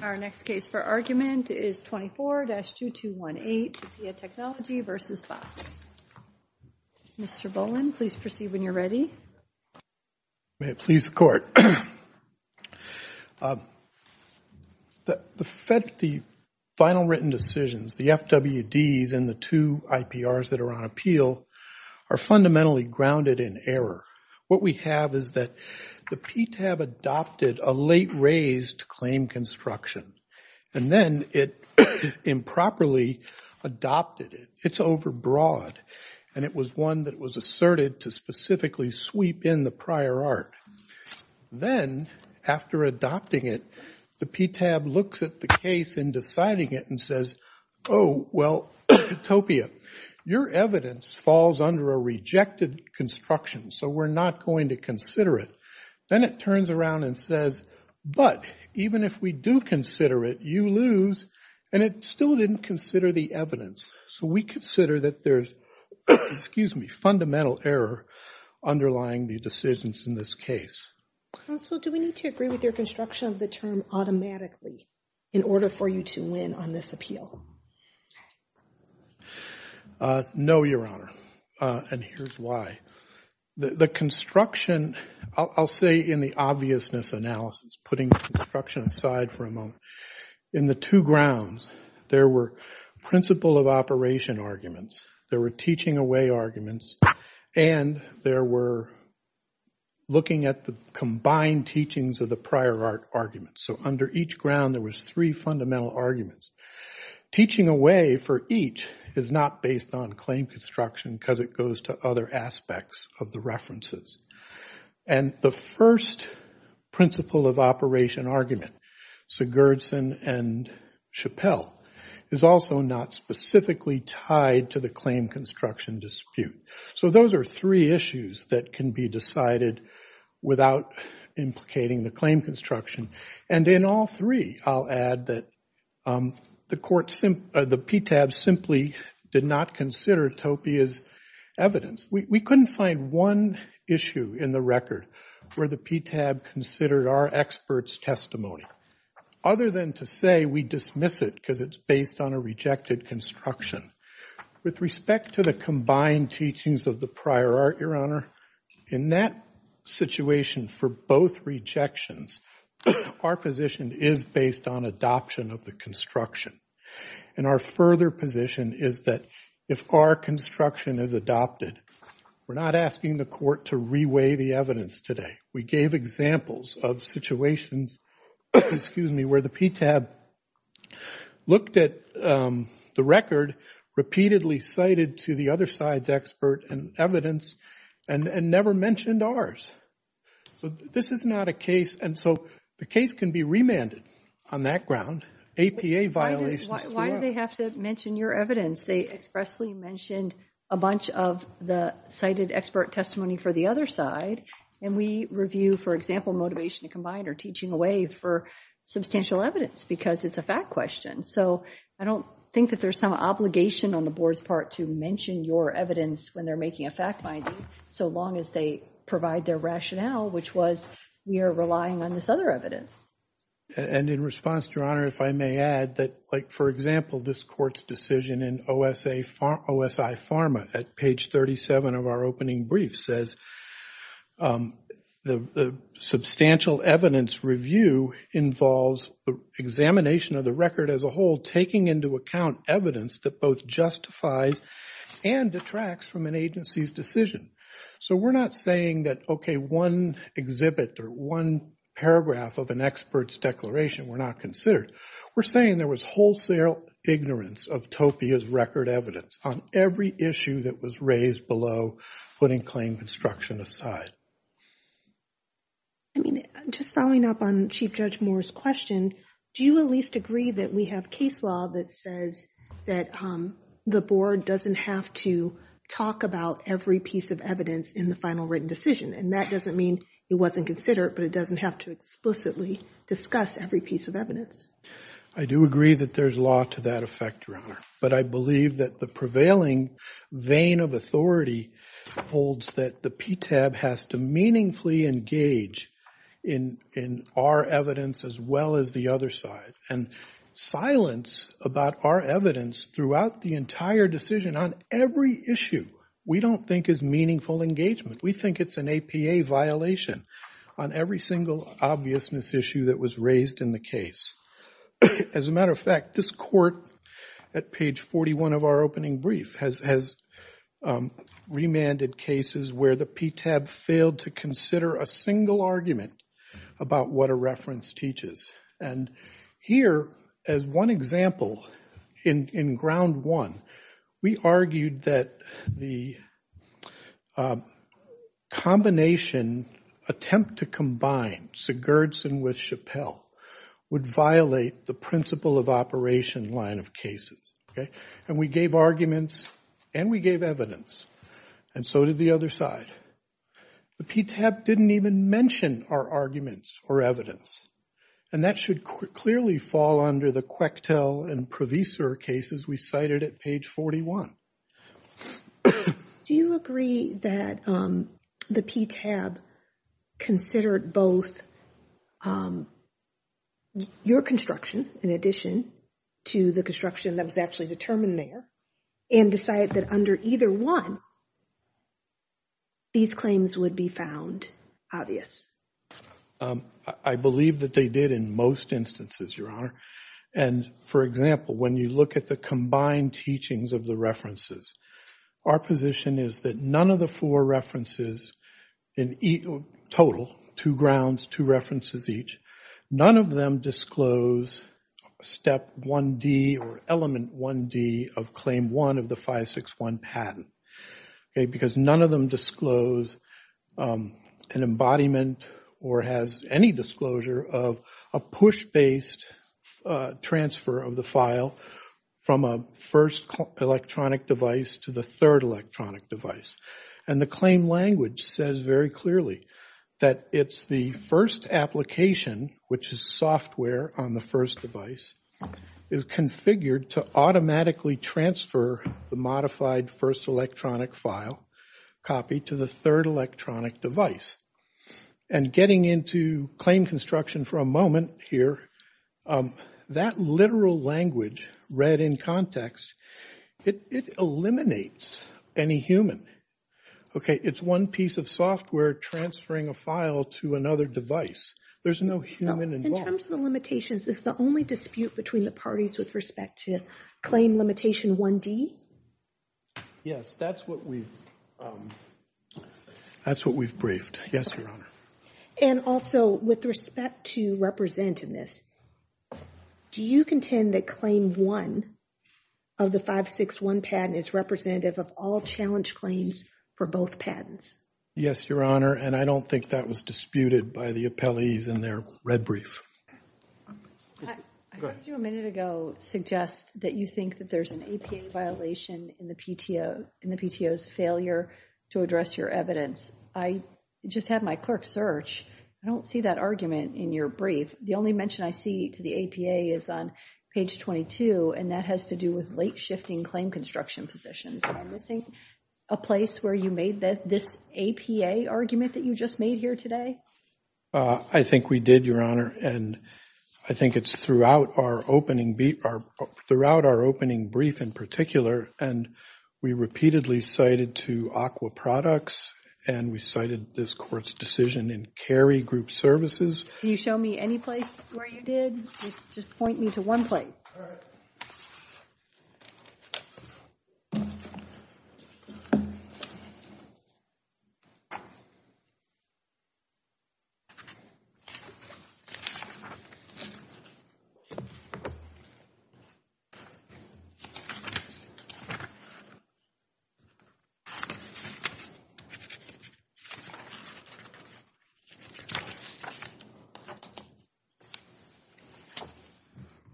Our next case for argument is 24-2218, Topia Technology v. Box. Mr. Boland, please proceed when you're ready. May it please the Court. The final written decisions, the FWDs and the two IPRs that are on appeal, are fundamentally grounded in error. What we have is that the PTAB adopted a late-raised claim construction, and then it improperly adopted it. It's overbroad, and it was one that was asserted to specifically sweep in the prior art. Then, after adopting it, the PTAB looks at the case in deciding it and says, Oh, well, Topia, your evidence falls under a rejected construction, so we're not going to consider it. Then it turns around and says, But even if we do consider it, you lose, and it still didn't consider the evidence. So we consider that there's fundamental error underlying the decisions in this case. Counsel, do we need to agree with your construction of the term automatically in order for you to win on this appeal? No, Your Honor, and here's why. The construction, I'll say in the obviousness analysis, putting construction aside for a moment, in the two grounds, there were principle of operation arguments, there were teaching away arguments, and there were looking at the combined teachings of the prior art arguments. So under each ground, there were three fundamental arguments. Teaching away for each is not based on claim construction because it goes to other aspects of the references. And the first principle of operation argument, Sigurdsson and Chappell, is also not specifically tied to the claim construction dispute. So those are three issues that can be decided without implicating the claim construction. And in all three, I'll add that the PTAB simply did not consider Topia's evidence. We couldn't find one issue in the record where the PTAB considered our expert's testimony, other than to say we dismiss it because it's based on a rejected construction. With respect to the combined teachings of the prior art, Your Honor, in that situation for both rejections, our position is based on adoption of the construction. And our further position is that if our construction is adopted, we're not asking the court to re-weigh the evidence today. We gave examples of situations where the PTAB looked at the record, repeatedly cited to the other side's expert and evidence, and never mentioned ours. So this is not a case, and so the case can be remanded on that ground. APA violations. Why do they have to mention your evidence? They expressly mentioned a bunch of the cited expert testimony for the other side. And we review, for example, motivation to combine or teaching away for substantial evidence because it's a fact question. So I don't think that there's some obligation on the board's part to mention your evidence when they're making a fact finding, so long as they provide their rationale, which was, we are relying on this other evidence. And in response, Your Honor, if I may add that, like, for example, this court's decision in OSI Pharma at page 37 of our opening brief says, the substantial evidence review involves the examination of the record as a whole, taking into account evidence that both justifies and detracts from an agency's decision. So we're not saying that, okay, one exhibit or one paragraph of an expert's declaration were not considered. We're saying there was wholesale ignorance of TOPIA's record evidence on every issue that was raised below putting claim construction aside. I mean, just following up on Chief Judge Moore's question, do you at least agree that we have case law that says that the board doesn't have to talk about every piece of evidence in the final written decision? And that doesn't mean it wasn't considered, but it doesn't have to explicitly discuss every piece of evidence. I do agree that there's law to that effect, Your Honor. But I believe that the prevailing vein of authority holds that the PTAB has to meaningfully engage in our evidence as well as the other side. And silence about our evidence throughout the entire decision on every issue we don't think is meaningful engagement. We think it's an APA violation on every single obviousness issue that was raised in the case. As a matter of fact, this court at page 41 of our opening brief has remanded cases where the PTAB failed to consider a single argument about what a reference teaches. And here, as one example, in ground one, we argued that the combination attempt to combine Sigurdsson with Chappelle would violate the principle of operation line of cases. And we gave arguments and we gave evidence. And so did the other side. The PTAB didn't even mention our arguments or evidence. And that should clearly fall under the Quechtel and Proviser cases we cited at page 41. Do you agree that the PTAB considered both your construction in addition to the construction that was actually determined there and decided that under either one these claims would be found obvious? I believe that they did in most instances, Your Honor. And, for example, when you look at the combined teachings of the references, our position is that none of the four references in total, two grounds, two references each, none of them disclose step 1D or element 1D of claim one of the 561 patent. Because none of them disclose an embodiment or has any disclosure of a push-based transfer of the file from a first electronic device to the third electronic device. And the claim language says very clearly that it's the first application, which is software on the first device, is configured to automatically transfer the modified first electronic file copy to the third electronic device. And getting into claim construction for a moment here, that literal language read in context, it eliminates any human. Okay, it's one piece of software transferring a file to another device. There's no human involved. In terms of the limitations, is the only dispute between the parties with respect to claim limitation 1D? Yes, that's what we've briefed. Yes, Your Honor. And also, with respect to representativeness, do you contend that claim one of the 561 patent is representative of all challenge claims for both patents? Yes, Your Honor, and I don't think that was disputed by the appellees in their red brief. I heard you a minute ago suggest that you think that there's an APA violation in the PTO, in the PTO's failure to address your evidence. I just had my clerk search. I don't see that argument in your brief. The only mention I see to the APA is on page 22, and that has to do with late shifting claim construction positions. Am I missing a place where you made this APA argument that you just made here today? I think we did, Your Honor, and I think it's throughout our opening brief in particular, and we repeatedly cited to Aqua Products, and we cited this court's decision in Carey Group Services. Can you show me any place where you did? Just point me to one place. All right.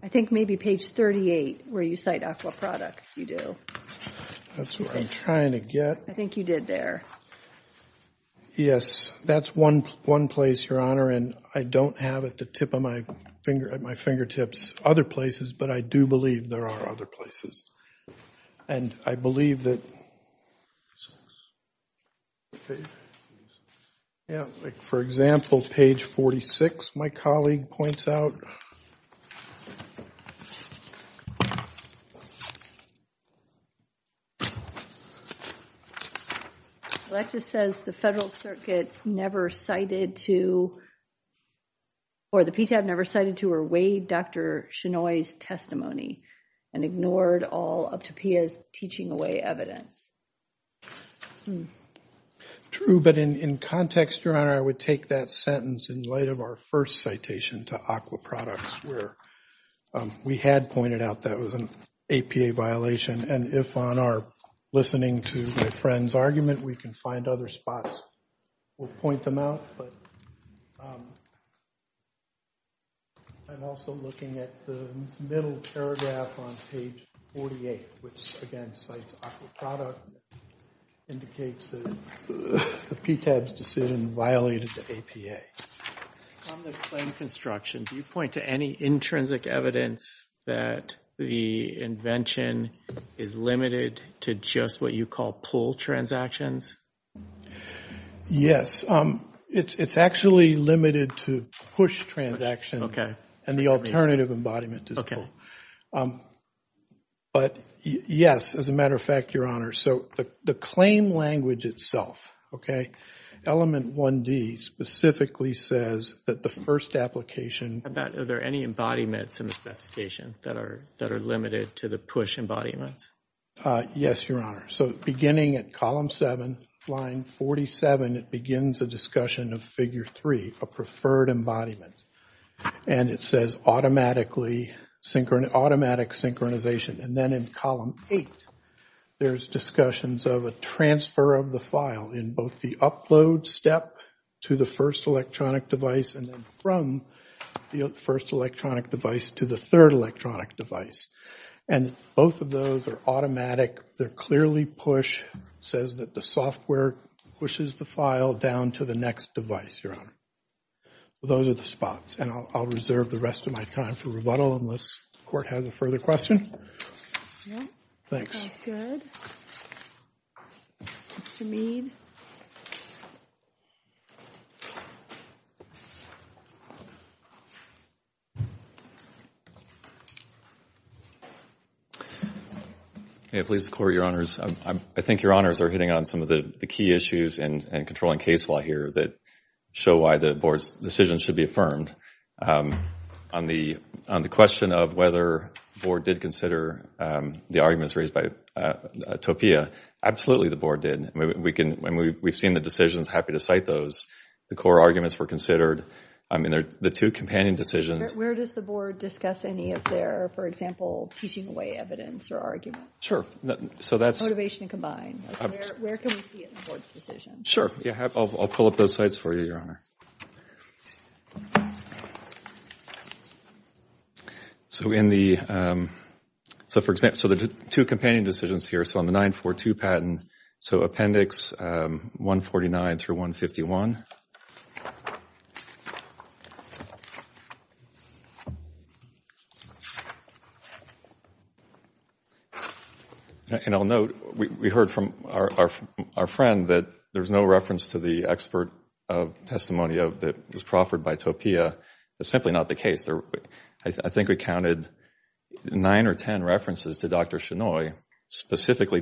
I think maybe page 38 where you cite Aqua Products you do. That's what I'm trying to get. I think you did there. Yes, that's one place, Your Honor, and I don't have it at the tip of my finger, at my fingertips, other places, but I do believe there are other places, and I believe that, for example, page 46 my colleague points out. Well, that just says the Federal Circuit never cited to, or the PCAP never cited to or weighed Dr. Chenoy's testimony and ignored all of Topia's teaching away evidence. True, but in context, Your Honor, I would take that sentence in light of our first citation to Aqua Products where we had pointed out that was an APA violation, and if on our listening to my friend's argument we can find other spots, we'll point them out, but I'm also looking at the middle paragraph on page 48, which, again, cites Aqua Products, indicates that the PTAB's decision violated the APA. On the claim construction, do you point to any intrinsic evidence that the invention is limited to just what you call pull transactions? Yes. It's actually limited to push transactions and the alternative embodiment is pull. But, yes, as a matter of fact, Your Honor, so the claim language itself, okay, element 1D specifically says that the first application Are there any embodiments in the specification that are limited to the push embodiments? Yes, Your Honor. So beginning at column 7, line 47, it begins a discussion of figure 3, a preferred embodiment, and it says automatic synchronization, and then in column 8, there's discussions of a transfer of the file in both the upload step to the first electronic device and then from the first electronic device to the third electronic device, and both of those are automatic. They're clearly push. It says that the software pushes the file down to the next device, Your Honor. Those are the spots, and I'll reserve the rest of my time for rebuttal unless the court has a further question. Thanks. That's good. Mr. Mead. Please, the Court, Your Honors, I think Your Honors are hitting on some of the key issues and controlling case law here that show why the Board's decision should be affirmed. On the question of whether the Board did consider the arguments raised by Topia, absolutely the Board did. We've seen the decisions, happy to cite those. The core arguments were considered. I mean, the two companion decisions. Where does the Board discuss any of their, for example, teaching away evidence or argument? Sure. Motivation combined. Where can we see it in the Board's decision? Sure. I'll pull up those sites for you, Your Honor. So in the, so for example, the two companion decisions here, so on the 942 patent, so Appendix 149 through 151. And I'll note, we heard from our friend that there's no reference to the expert testimony that was proffered by Topia. That's simply not the case. I think we counted nine or ten references to Dr. Chenoy, specifically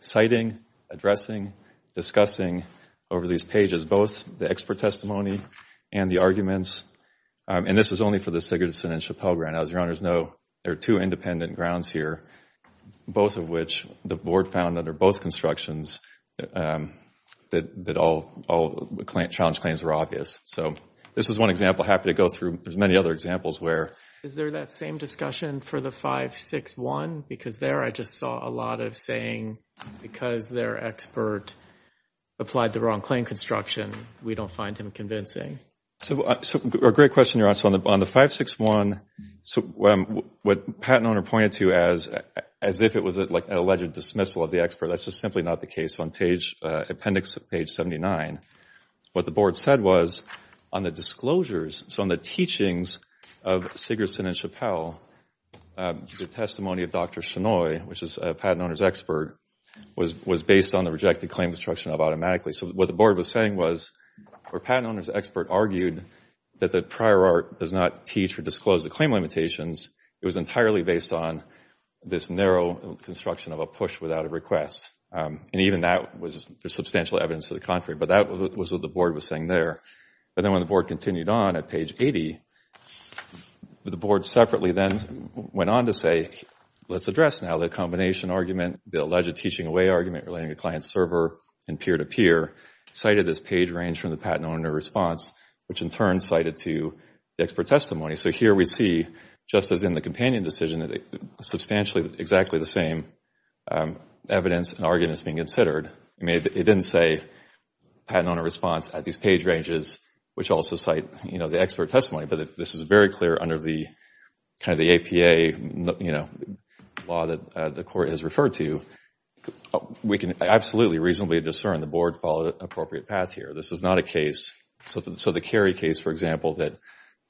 citing, addressing, discussing over these pages both the expert testimony and the arguments. And this is only for the Sigurdsson and Chappelle grounds. As Your Honors know, there are two independent grounds here, both of which the Board found under both constructions that all challenge claims were obvious. So this is one example I'm happy to go through. There's many other examples where. Is there that same discussion for the 561? Because there I just saw a lot of saying because their expert applied the wrong claim construction, we don't find him convincing. So a great question, Your Honor. So on the 561, what Patent Owner pointed to as if it was an alleged dismissal of the expert, that's just simply not the case. On Appendix 79, what the Board said was on the disclosures, so on the teachings of Sigurdsson and Chappelle, the testimony of Dr. Chenoy, which is Patent Owner's expert, was based on the rejected claim construction of automatically. So what the Board was saying was where Patent Owner's expert argued that the prior art does not teach or disclose the claim limitations, it was entirely based on this narrow construction of a push without a request. And even that was substantial evidence to the contrary. But that was what the Board was saying there. But then when the Board continued on at page 80, the Board separately then went on to say, let's address now the combination argument, the alleged teaching away argument relating to client-server and peer-to-peer, cited this page range from the Patent Owner response, which in turn cited to the expert testimony. So here we see, just as in the companion decision, substantially exactly the same evidence and arguments being considered. It didn't say Patent Owner response at these page ranges, which also cite the expert testimony. But this is very clear under the APA law that the Court has referred to. We can absolutely reasonably discern the Board followed an appropriate path here. This is not a case. So the Cary case, for example, that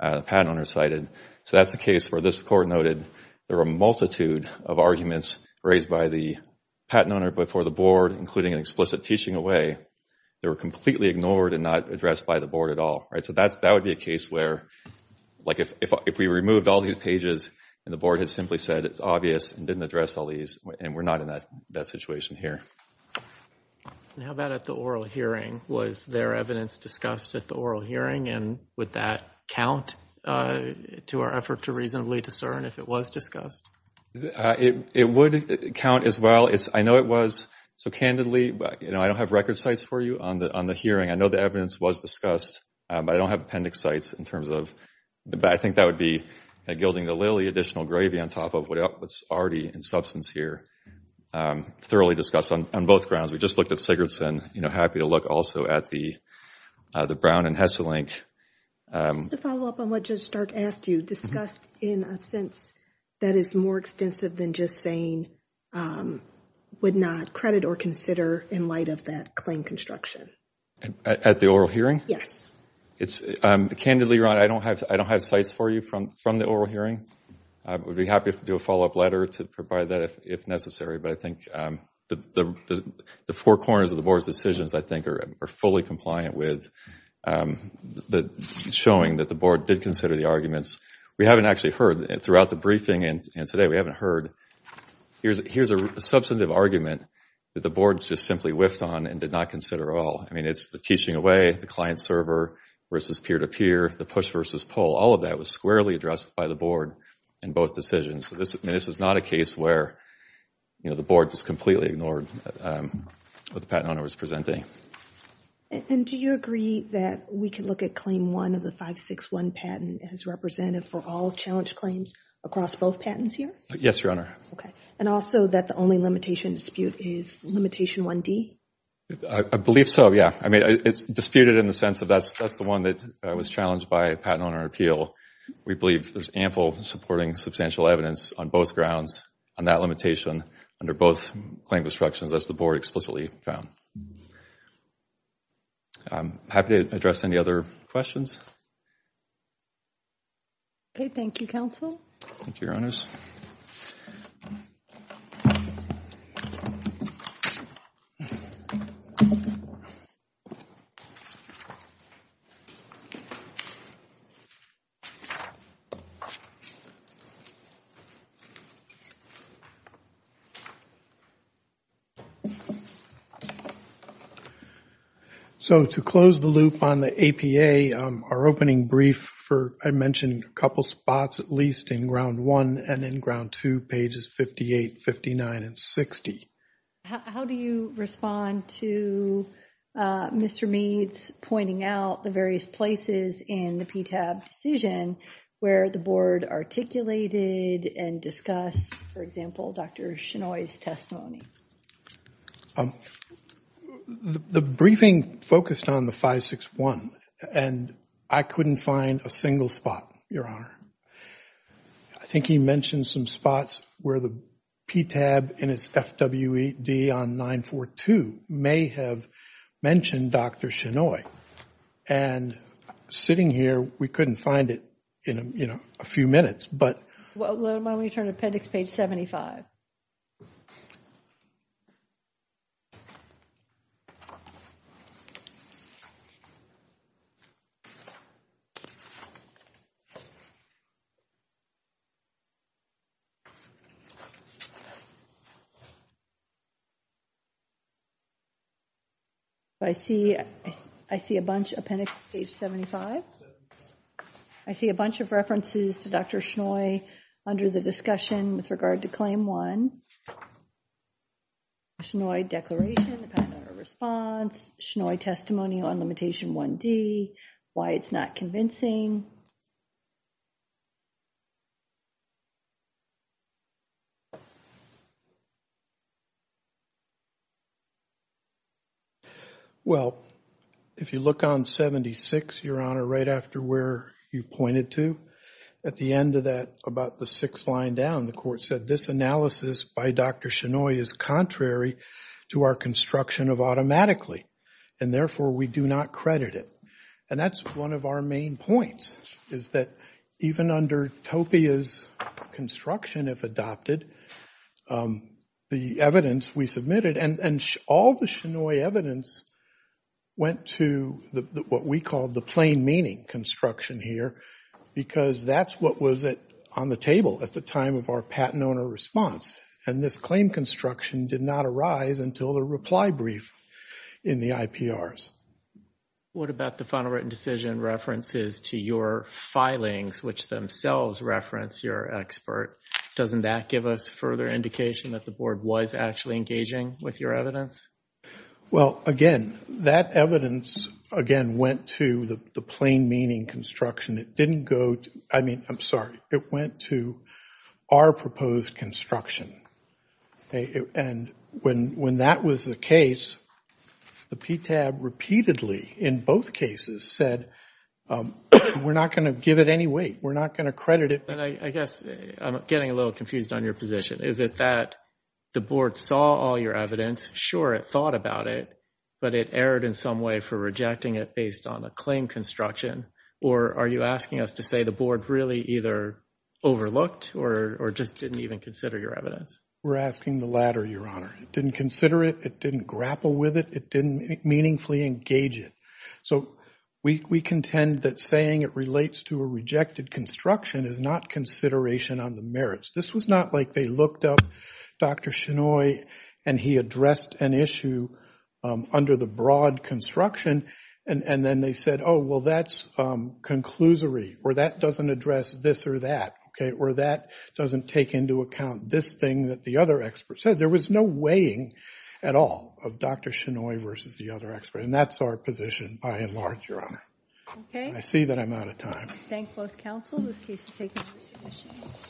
Patent Owner cited, so that's the case where this Court noted there were a multitude of arguments raised by the Patent Owner before the Board, including an explicit teaching away. They were completely ignored and not addressed by the Board at all. So that would be a case where if we removed all these pages and the Board had simply said it's obvious and didn't address all these, and we're not in that situation here. How about at the oral hearing? Was there evidence discussed at the oral hearing, and would that count to our effort to reasonably discern if it was discussed? It would count as well. I know it was, so candidly, I don't have record sites for you on the hearing. I know the evidence was discussed, but I don't have appendix sites in terms of the back. I think that would be gilding the lily, additional gravy on top of what's already in substance here. Thoroughly discussed on both grounds. We just looked at Sigurdsson. You know, happy to look also at the Brown and Hesselink. To follow up on what Judge Stark asked you, discussed in a sense that is more extensive than just saying would not credit or consider in light of that claim construction. At the oral hearing? Yes. Candidly, Ron, I don't have sites for you from the oral hearing. I would be happy to do a follow-up letter to provide that if necessary, but I think the four corners of the Board's decisions, I think, are fully compliant with showing that the Board did consider the arguments. We haven't actually heard, throughout the briefing and today, we haven't heard, but here's a substantive argument that the Board just simply whiffed on and did not consider at all. I mean, it's the teaching away, the client-server versus peer-to-peer, the push versus pull. All of that was squarely addressed by the Board in both decisions. This is not a case where the Board just completely ignored what the patent owner was presenting. And do you agree that we can look at Claim 1 of the 561 patent as representative for all challenge claims across both patents here? Yes, Your Honor. Okay. And also that the only limitation dispute is Limitation 1D? I believe so, yeah. I mean, it's disputed in the sense of that's the one that was challenged by Patent Owner Appeal. We believe there's ample supporting substantial evidence on both grounds on that limitation under both claim destructions, as the Board explicitly found. I'm happy to address any other questions. Okay, thank you, Counsel. Thank you, Your Honors. Thank you. So to close the loop on the APA, our opening brief for, I mentioned, a couple spots at least in Ground 1 and in Ground 2, pages 58, 59, and 60. How do you respond to Mr. Mead's pointing out the various places in the PTAB decision where the Board articulated and discussed, for example, Dr. Chinoy's testimony? The briefing focused on the 561, and I couldn't find a single spot, Your Honor. I think he mentioned some spots where the PTAB in its FWD on 942 may have mentioned Dr. Chinoy. And sitting here, we couldn't find it in a few minutes. Why don't we turn to appendix page 75. I see a bunch. Appendix page 75. I see a bunch of references to Dr. Chinoy under the discussion with regard to Claim 1. Chinoy declaration, the Patent Owner Response, Chinoy testimony on Limitation 1D, why it's not convincing. Well, if you look on 76, Your Honor, right after where you pointed to, at the end of that, about the sixth line down, the court said, this analysis by Dr. Chinoy is contrary to our construction of automatically, and therefore we do not credit it. And that's one of our main points. Is that even under TOPIA's construction, if adopted, the evidence we submitted, and all the Chinoy evidence went to what we call the plain meaning construction here, because that's what was on the table at the time of our Patent Owner Response. And this claim construction did not arise until the reply brief in the IPRs. What about the final written decision references to your filings, which themselves reference your expert? Doesn't that give us further indication that the board was actually engaging with your evidence? Well, again, that evidence, again, went to the plain meaning construction. It didn't go to, I mean, I'm sorry, it went to our proposed construction. And when that was the case, the PTAB repeatedly, in both cases, said we're not going to give it any weight. We're not going to credit it. I guess I'm getting a little confused on your position. Is it that the board saw all your evidence, sure, it thought about it, but it erred in some way for rejecting it based on a claim construction, or are you asking us to say the board really either overlooked or just didn't even consider your evidence? We're asking the latter, Your Honor. It didn't consider it. It didn't grapple with it. It didn't meaningfully engage it. So we contend that saying it relates to a rejected construction is not consideration on the merits. This was not like they looked up Dr. Chinoy, and he addressed an issue under the broad construction, and then they said, oh, well, that's conclusory, or that doesn't address this or that, okay, or that doesn't take into account this thing that the other expert said. There was no weighing at all of Dr. Chinoy versus the other expert, and that's our position by and large, Your Honor. Okay. I see that I'm out of time. Thank both counsel. This case is taken to resubmission.